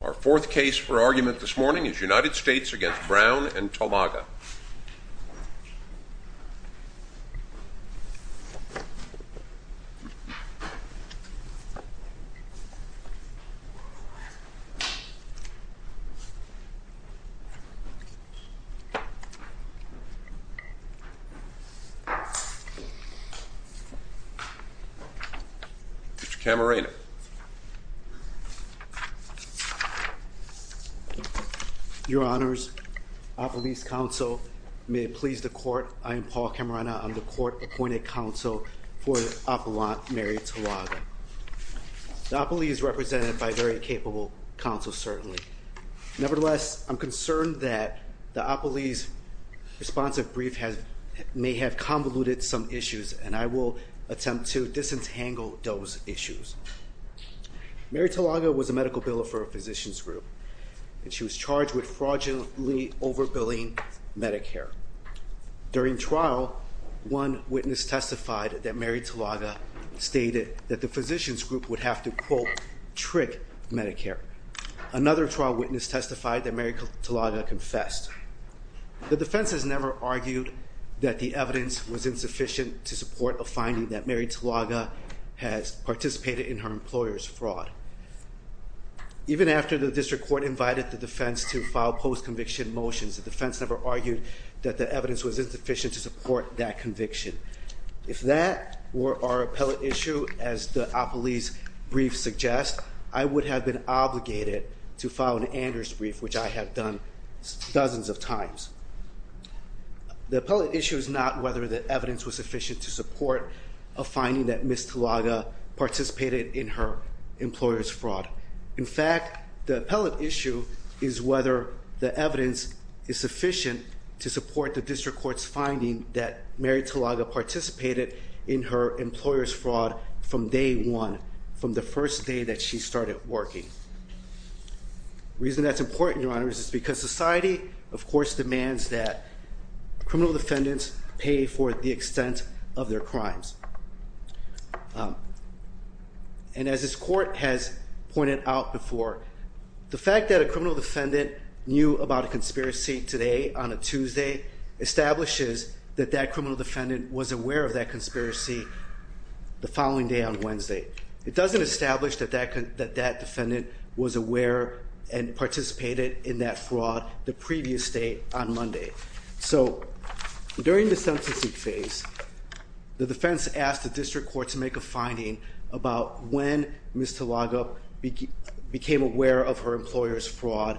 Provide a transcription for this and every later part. Our fourth case for argument this morning is United States v. Brown v. Tomaga Mr. Camarena Your honors, our police counsel, may it please the court, I am Paul Camarena, I'm the court appointed counsel for the appellant Mary Tolaga. The appellee is represented by very capable counsel, certainly. Nevertheless, I'm concerned that the appellee's responsive brief may have convoluted some issues and I will attempt to disentangle those issues. Mary Tolaga was a medical biller for a physician's group and she was charged with fraudulently overbilling Medicare. During trial, one witness testified that Mary Tolaga stated that the physician's group would have to, quote, trick Medicare. Another trial witness testified that Mary Tolaga confessed. The defense has never argued that the evidence was insufficient to support a finding that Mary Tolaga has participated in her employer's fraud. Even after the district court invited the defense to file post-conviction motions, the evidence was insufficient to support that conviction. If that were our appellate issue, as the appellee's brief suggests, I would have been obligated to file an Anders brief, which I have done dozens of times. The appellate issue is not whether the evidence was sufficient to support a finding that Ms. Tolaga participated in her employer's fraud. In fact, the appellate issue is whether the evidence is sufficient to support the district court's finding that Mary Tolaga participated in her employer's fraud from day one, from the first day that she started working. The reason that's important, Your Honor, is because society, of course, demands that criminal defendants pay for the extent of their crimes. And as this court has pointed out before, the fact that a criminal defendant knew about a conspiracy today on a Tuesday establishes that that criminal defendant was aware of that conspiracy the following day on Wednesday. It doesn't establish that that defendant was aware and participated in that fraud the previous day on Monday. So during the sentencing phase, the defense asked the district court to make a finding about when Ms. Tolaga became aware of her employer's fraud,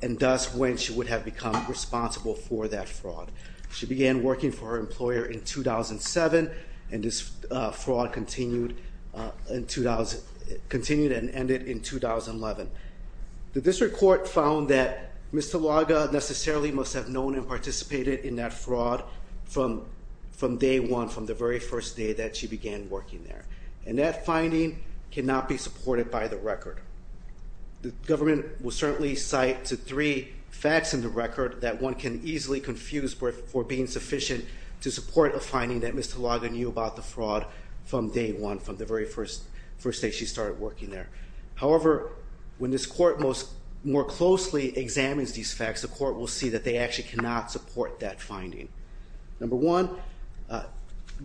and thus when she would have become responsible for that fraud. She began working for her employer in 2007, and this fraud continued and ended in 2011. The district court found that Ms. Tolaga necessarily must have known and participated in that fraud from day one, from the very first day that she began working there. And that finding cannot be supported by the record. The government will certainly cite to three facts in the record that one can easily confuse for being sufficient to support a finding that Ms. Tolaga knew about the fraud from day one, from the very first day she started working there. However, when this court more closely examines these facts, the court will see that they actually cannot support that finding. Number one,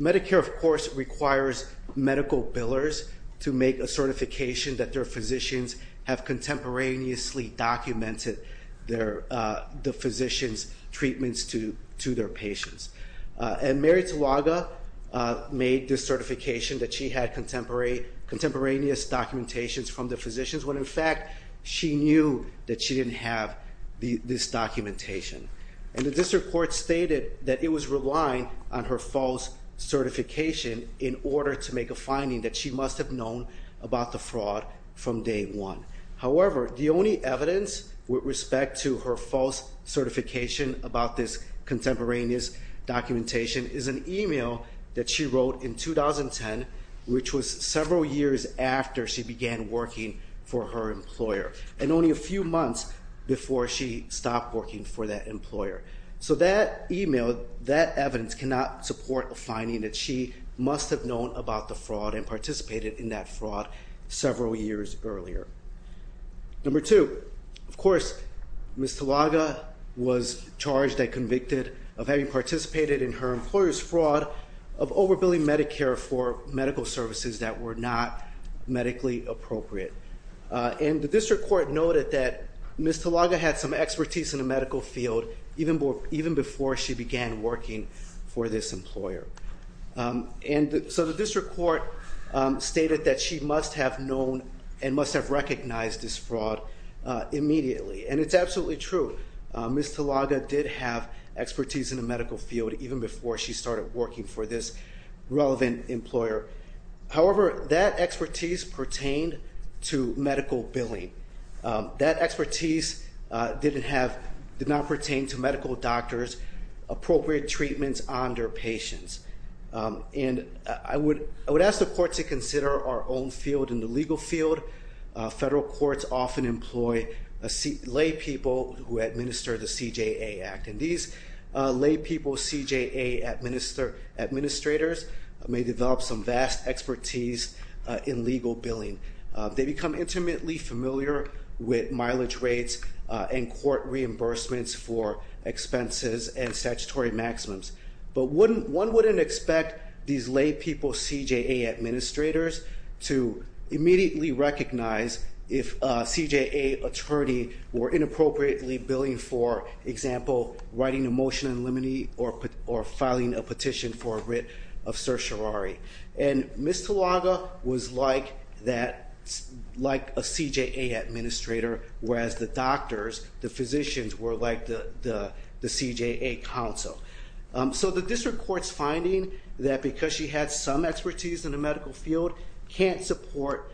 Medicare of course requires medical billers to make a certification that their physicians have contemporaneously documented the physician's treatments to their patients. And Mary Tolaga made this certification that she had contemporaneous documentations from the physicians, when in fact she knew that she didn't have this documentation. And the district court stated that it was relying on her false certification in order to make a finding that she must have known about the fraud from day one. However, the only evidence with respect to her false certification about this contemporaneous documentation is an email that she wrote in 2010, which was several years after she began working for her employer, and only a few months before she stopped working for that employer. So that email, that evidence cannot support a finding that she must have known about the fraud and participated in that fraud several years earlier. Number two, of course, Ms. Tolaga was charged and convicted of having participated in her employer's fraud of over billing Medicare for medical services that were not medically appropriate. And the district court noted that Ms. Tolaga had some expertise in the medical field even before she began working for this employer. And so the district court stated that she must have known and must have recognized this fraud immediately. And it's absolutely true. Ms. Tolaga did have expertise in the medical field even before she started working for this relevant employer. However, that expertise pertained to medical billing. That expertise did not pertain to medical doctors, appropriate treatments on their patients. And I would ask the court to consider our own field in the legal field. Federal courts often employ lay people who administer the CJA Act. And these lay people, CJA administrators, may develop some vast expertise in legal billing. They become intimately familiar with mileage rates and court reimbursements for expenses and statutory maximums. But one wouldn't expect these lay people, CJA administrators, to immediately recognize if a CJA attorney were inappropriately billing for, example, writing a motion in limine or filing a petition for a writ of certiorari. And Ms. Tolaga was like a CJA administrator, whereas the doctors, the physicians, were like the CJA counsel. So the district court's finding that because she had some expertise in the medical field, cannot support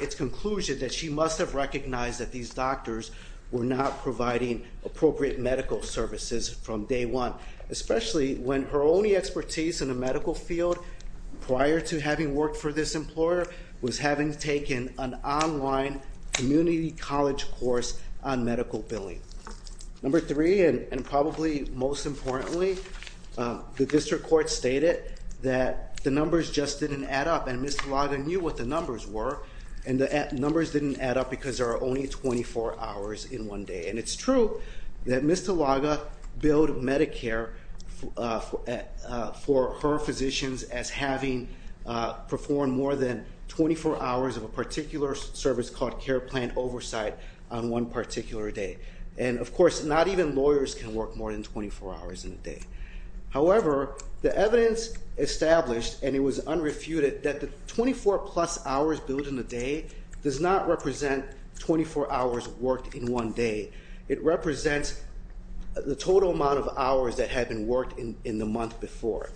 its conclusion that she must have recognized that these doctors were not providing appropriate medical services from day one, especially when her only expertise in the medical field prior to having worked for this employer was having taken an online community college course on medical billing. Number three, and probably most importantly, the district court stated that the numbers just didn't add up, and Ms. Tolaga knew what the numbers were, and the numbers didn't add up because there are only 24 hours in one day. And it's true that Ms. Tolaga billed Medicare for her physicians as having performed more than 24 hours of a particular service called care plan oversight on one particular day. And of course, not even lawyers can work more than 24 hours in a day. However, the evidence established, and it was unrefuted, that the 24 plus hours billed in a day does not represent 24 hours worked in one day. It represents the total amount of hours that had been worked in the month before.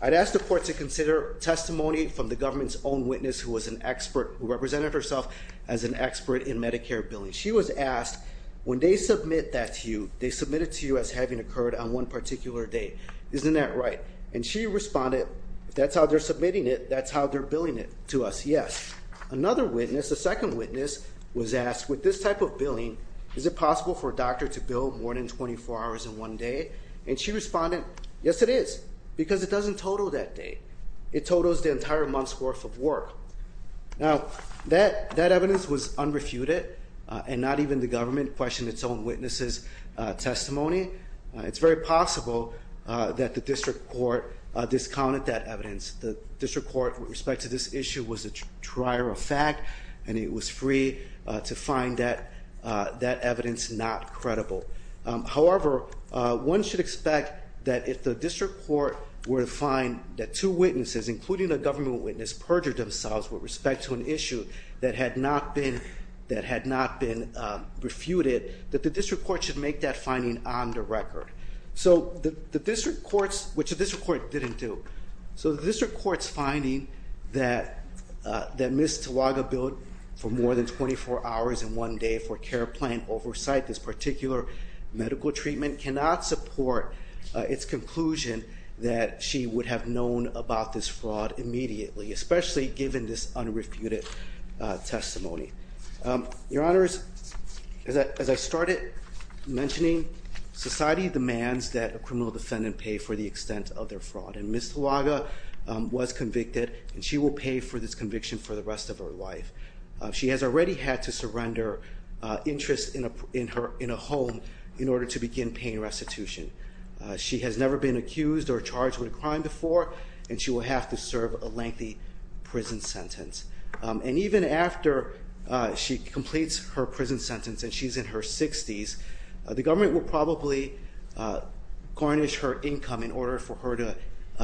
I'd ask the court to consider testimony from the government's own witness who was an expert, who represented herself as an expert in Medicare billing. She was asked, when they submit that to you, they submit it to you as having occurred on one particular day. Isn't that right? And she responded, that's how they're submitting it, that's how they're billing it to us, yes. Another witness, a second witness, was asked, with this type of billing, is it possible for a doctor to bill more than 24 hours in one day? And she responded, yes it is, because it doesn't total that day. It totals the entire month's worth of work. Now, that evidence was unrefuted, and not even the government questioned its own witness's testimony. It's very possible that the district court discounted that evidence. The district court, with respect to this issue, was a trier of fact, and it was free to find that evidence not credible. However, one should expect that if the district court were to find that two witnesses, including a government witness, perjured themselves with respect to an issue that had not been refuted, that the district court should make that finding on the record, which the district court didn't do. So the district court's finding that Ms. Medical treatment cannot support its conclusion that she would have known about this fraud immediately, especially given this unrefuted testimony. Your honors, as I started mentioning, society demands that a criminal defendant pay for the extent of their fraud. And Ms. Tulaga was convicted, and she will pay for this conviction for the rest of her life. She has already had to surrender interest in a home in order to begin paying restitution. She has never been accused or charged with a crime before, and she will have to serve a lengthy prison sentence. And even after she completes her prison sentence and she's in her 60s, the government will probably garnish her income in order for her to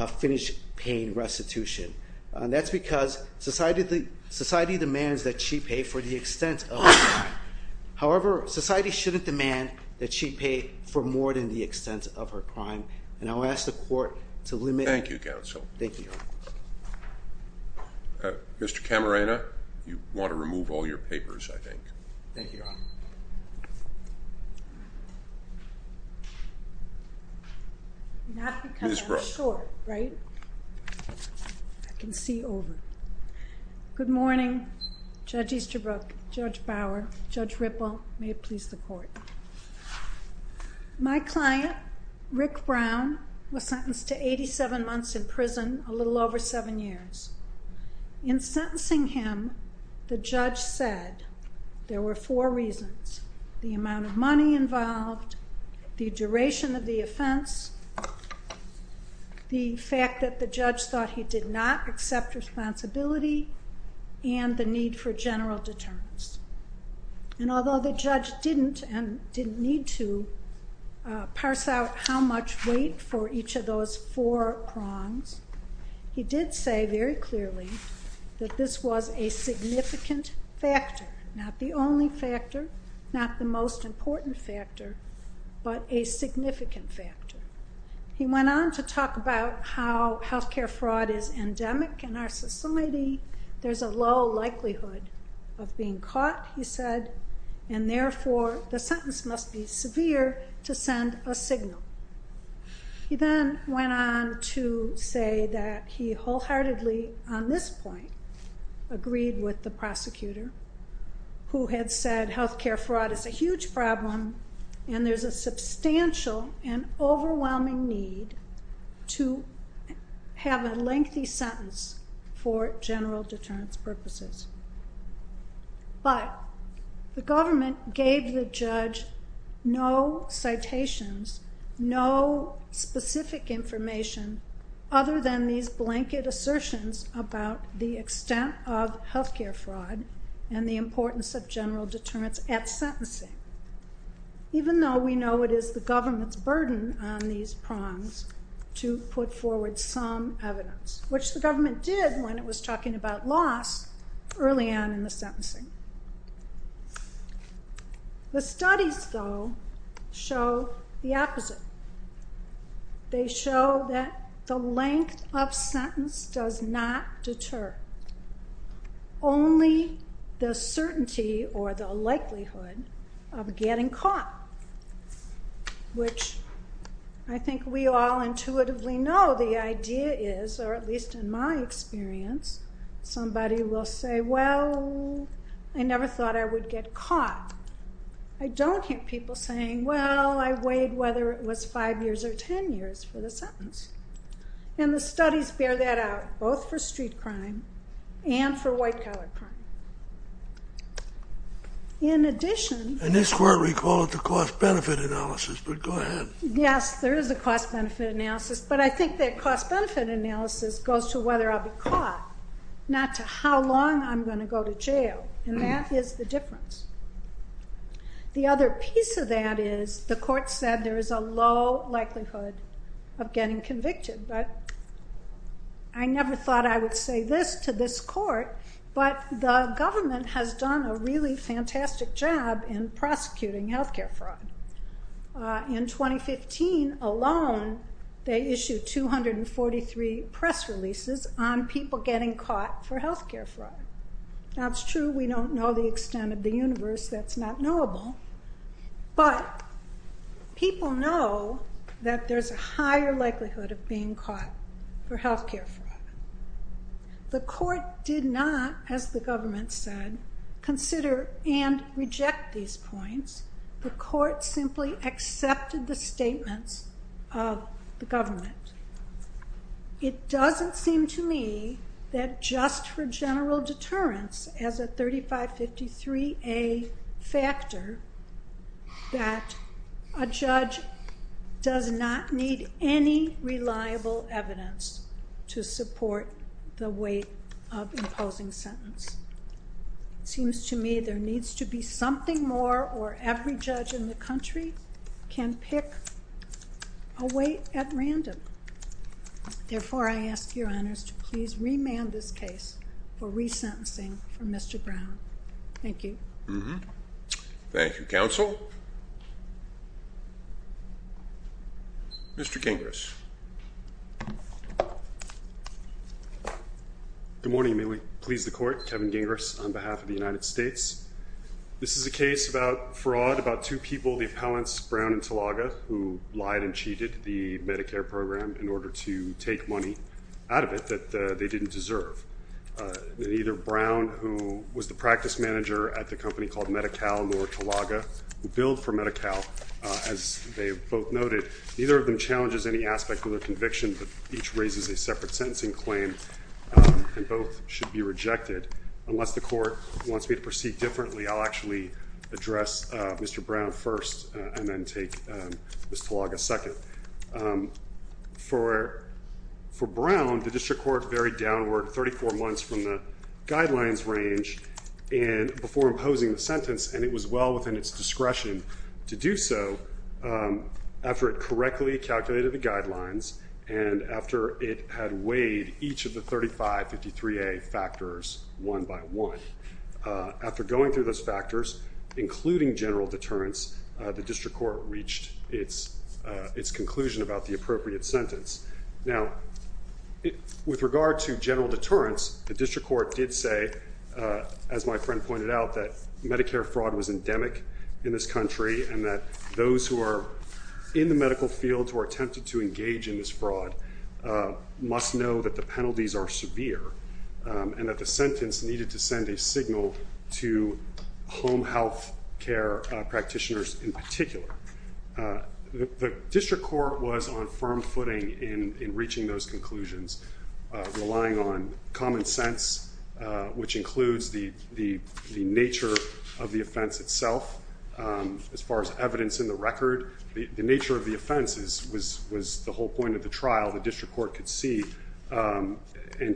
finish paying restitution. And that's because society demands that she pay for the extent of her crime. However, society shouldn't demand that she pay for more than the extent of her crime. And I'll ask the court to limit- Thank you, counsel. Thank you. Mr. Camarena, you want to remove all your papers, I think. Thank you. Not because I'm short, right? I can see over. Good morning, Judge Easterbrook, Judge Bower, Judge Ripple, may it please the court. My client, Rick Brown, was sentenced to 87 months in prison, a little over seven years. In sentencing him, the judge said there were four reasons. The amount of money involved, the duration of the offense, the fact that the judge thought he did not accept responsibility, and the need for general deterrence. And although the judge didn't, and didn't need to, parse out how much weight for each of those four prongs, he did say very clearly that this was a significant factor. Not the only factor, not the most important factor, but a significant factor. He went on to talk about how health care fraud is endemic in our society. There's a low likelihood of being caught, he said. And therefore, the sentence must be severe to send a signal. He then went on to say that he wholeheartedly, on this point, agreed with the prosecutor, who had said health care fraud is a huge problem. And there's a substantial and overwhelming need to have a lengthy sentence for general deterrence purposes. But the government gave the judge no citations, no specific information other than these blanket assertions about the extent of health care fraud and the importance of general deterrence at sentencing. Even though we know it is the government's burden on these prongs to put forward some evidence, which the government did when it was talking about loss early on in the sentencing. The studies, though, show the opposite. They show that the length of sentence does not deter. Only the certainty or the likelihood of getting caught. Which I think we all intuitively know the idea is, or at least in my experience, somebody will say, well, I never thought I would get caught. I don't hear people saying, well, I weighed whether it was five years or ten years for the sentence. And the studies bear that out, both for street crime and for white-collar crime. In addition- And this court recalled the cost-benefit analysis, but go ahead. Yes, there is a cost-benefit analysis, but I think that cost-benefit analysis goes to whether I'll be caught, not to how long I'm going to go to jail, and that is the difference. The other piece of that is the court said there is a low likelihood of getting convicted, but I never thought I would say this to this court, but the government has done a really fantastic job in prosecuting health care fraud. In 2015 alone, they issued 243 press releases on people getting caught for health care fraud. Now, it's true we don't know the extent of the universe, that's not knowable. But people know that there's a higher likelihood of being caught for health care fraud. The court did not, as the government said, consider and reject these points. The court simply accepted the statements of the government. It doesn't seem to me that just for the record, that a judge does not need any reliable evidence to support the weight of imposing sentence. Seems to me there needs to be something more where every judge in the country can pick a weight at random. Therefore, I ask your honors to please remand this case for resentencing for Mr. Brown. Thank you. Mm-hm, thank you, counsel. Mr. Gingras. Good morning, may we please the court? Kevin Gingras on behalf of the United States. This is a case about fraud about two people, the appellants Brown and Talaga, who lied and cheated the Medicare program in order to take money out of it that they didn't deserve. Neither Brown, who was the practice manager at the company called Medi-Cal, nor Talaga, who billed for Medi-Cal, as they both noted, neither of them challenges any aspect of their conviction, but each raises a separate sentencing claim, and both should be rejected. Unless the court wants me to proceed differently, I'll actually address Mr. Brown first, and then take Miss Talaga second. For Brown, the district court varied downward 34 months from the guidelines range before imposing the sentence, and it was well within its discretion to do so after it correctly calculated the guidelines, and after it had weighed each of the 3553A factors one by one. After going through those factors, including general deterrence, the district court reached its conclusion about the appropriate sentence. Now, with regard to general deterrence, the district court did say, as my friend pointed out, that Medicare fraud was endemic in this country, and that those who are in the medical field who are tempted to engage in this fraud must know that the penalties are severe, and that the sentence needed to send a signal to home health care practitioners in particular. The district court was on firm footing in reaching those conclusions, relying on common sense, which includes the nature of the offense itself. As far as evidence in the record, the nature of the offense was the whole point of the trial. The district court could see and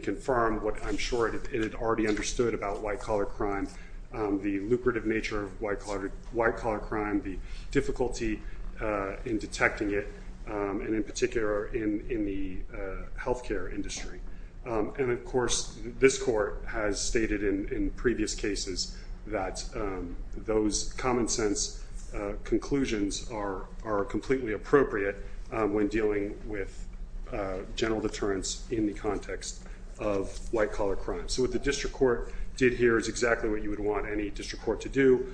confirm what I'm sure it had already understood about white collar crime, the lucrative nature of white collar crime, the difficulty in detecting it, and in particular, in the health care industry. And of course, this court has stated in previous cases that those common sense conclusions are completely appropriate when dealing with general deterrence in the context of white collar crime. So what the district court did here is exactly what you would want any district court to do,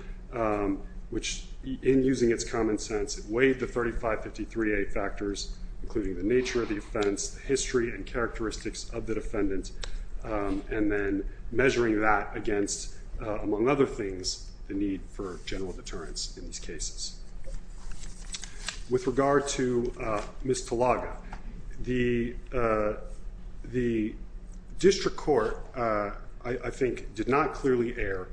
which in using its common sense, it weighed the 3553A factors, including the nature of the offense, the history and characteristics of the defendant, and then measuring that against, among other things, the need for general deterrence in these cases. With regard to Ms. Talaga, the district court, I think, did not clearly err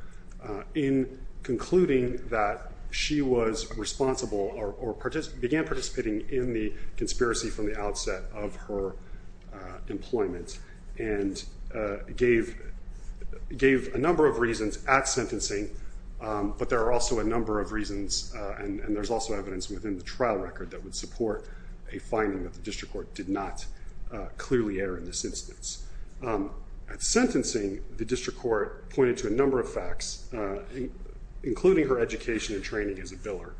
in concluding that she was responsible or began participating in the conspiracy from the outset of her employment. And gave a number of reasons at sentencing, but there are also a number of reasons, and there's also evidence within the trial record that would support a finding that the district court did not clearly err in this instance. At sentencing, the district court pointed to a number of facts, including her education and training as a biller,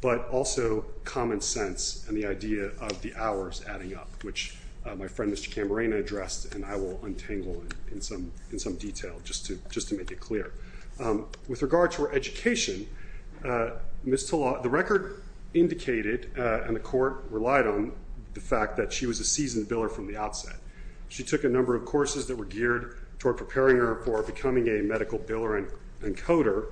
but also common sense and the idea of the hours adding up, which my friend Mr. Camarena addressed and I will untangle in some detail just to make it clear. With regard to her education, Ms. Talaga, the record indicated and the court relied on the fact that she was a seasoned biller from the outset. She took a number of courses that were geared toward preparing her for becoming a medical biller and coder,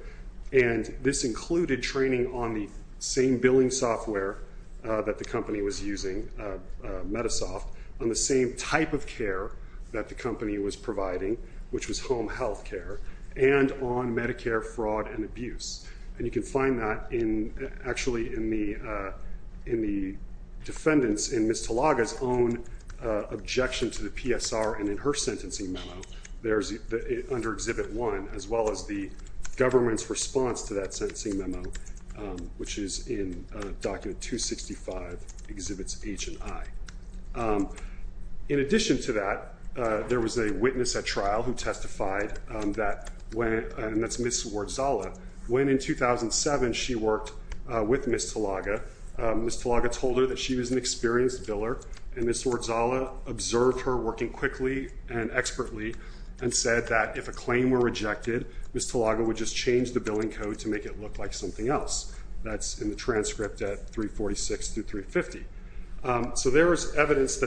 and this included training on the same billing software that the company was using, Metasoft, on the same type of care that the company was providing, which was home health care. And on Medicare fraud and abuse. And you can find that actually in the defendants, in Ms. Talaga's own objection to the PSR and in her sentencing memo. There's under Exhibit 1, as well as the government's response to that sentencing memo, which is in Document 265, Exhibits H and I. In addition to that, there was a witness at trial who testified, and that's Ms. Wardsala. When in 2007, she worked with Ms. Talaga, Ms. Talaga told her that she was an experienced biller. And Ms. Wardsala observed her working quickly and expertly and said that if a claim were rejected, Ms. Talaga would just change the billing code to make it look like something else. That's in the transcript at 346 through 350. So there is evidence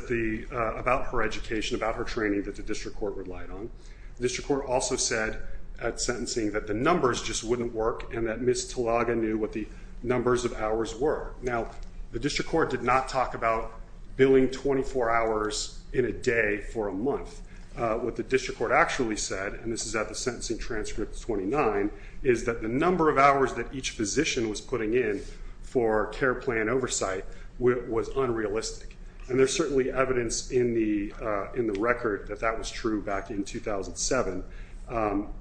about her education, about her training, that the district court relied on. The district court also said at sentencing that the numbers just wouldn't work and that Ms. Talaga knew what the numbers of hours were. Now, the district court did not talk about billing 24 hours in a day for a month. What the district court actually said, and this is at the sentencing transcript 29, is that the number of hours that each physician was putting in for care plan oversight was unrealistic. And there's certainly evidence in the record that that was true back in 2007.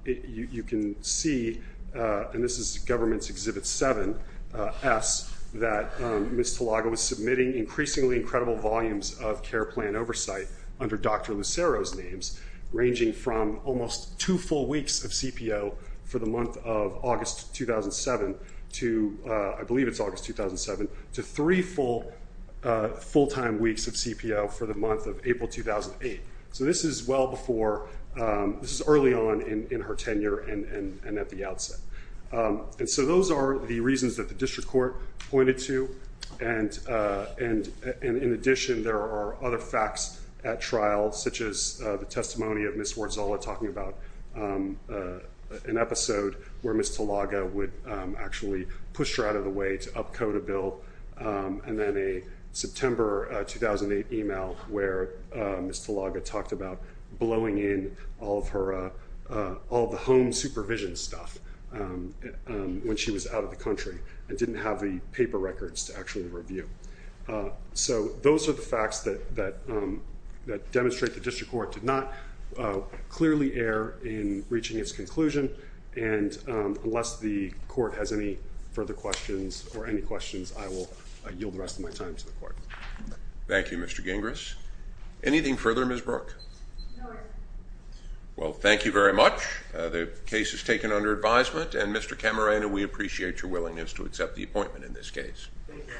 You can see, and this is government's exhibit 7S, that Ms. Talaga was submitting increasingly incredible volumes of care plan oversight under Dr. Lucero's names. Ranging from almost two full weeks of CPO for the month of August 2007 to, I believe it's August 2007, to three full-time weeks of CPO for the month of April 2008. So this is well before, this is early on in her tenure and at the outset. And so those are the reasons that the district court pointed to. And in addition, there are other facts at trial, such as the testimony of Ms. Wardsola talking about an episode where Ms. Talaga would actually push her out of the way to up-code a bill. And then a September 2008 email where Ms. Talaga talked about blowing in all of the home supervision stuff when she was out of the country and didn't have the paper records to actually review. So those are the facts that demonstrate the district court did not clearly err in reaching its conclusion. And unless the court has any further questions, or any questions, I will yield the rest of my time to the court. Thank you, Mr. Gingras. Anything further, Ms. Brooke? No, Your Honor. Well, thank you very much. The case is taken under advisement, and Mr. Camarena, we appreciate your willingness to accept the appointment in this case. Thank you.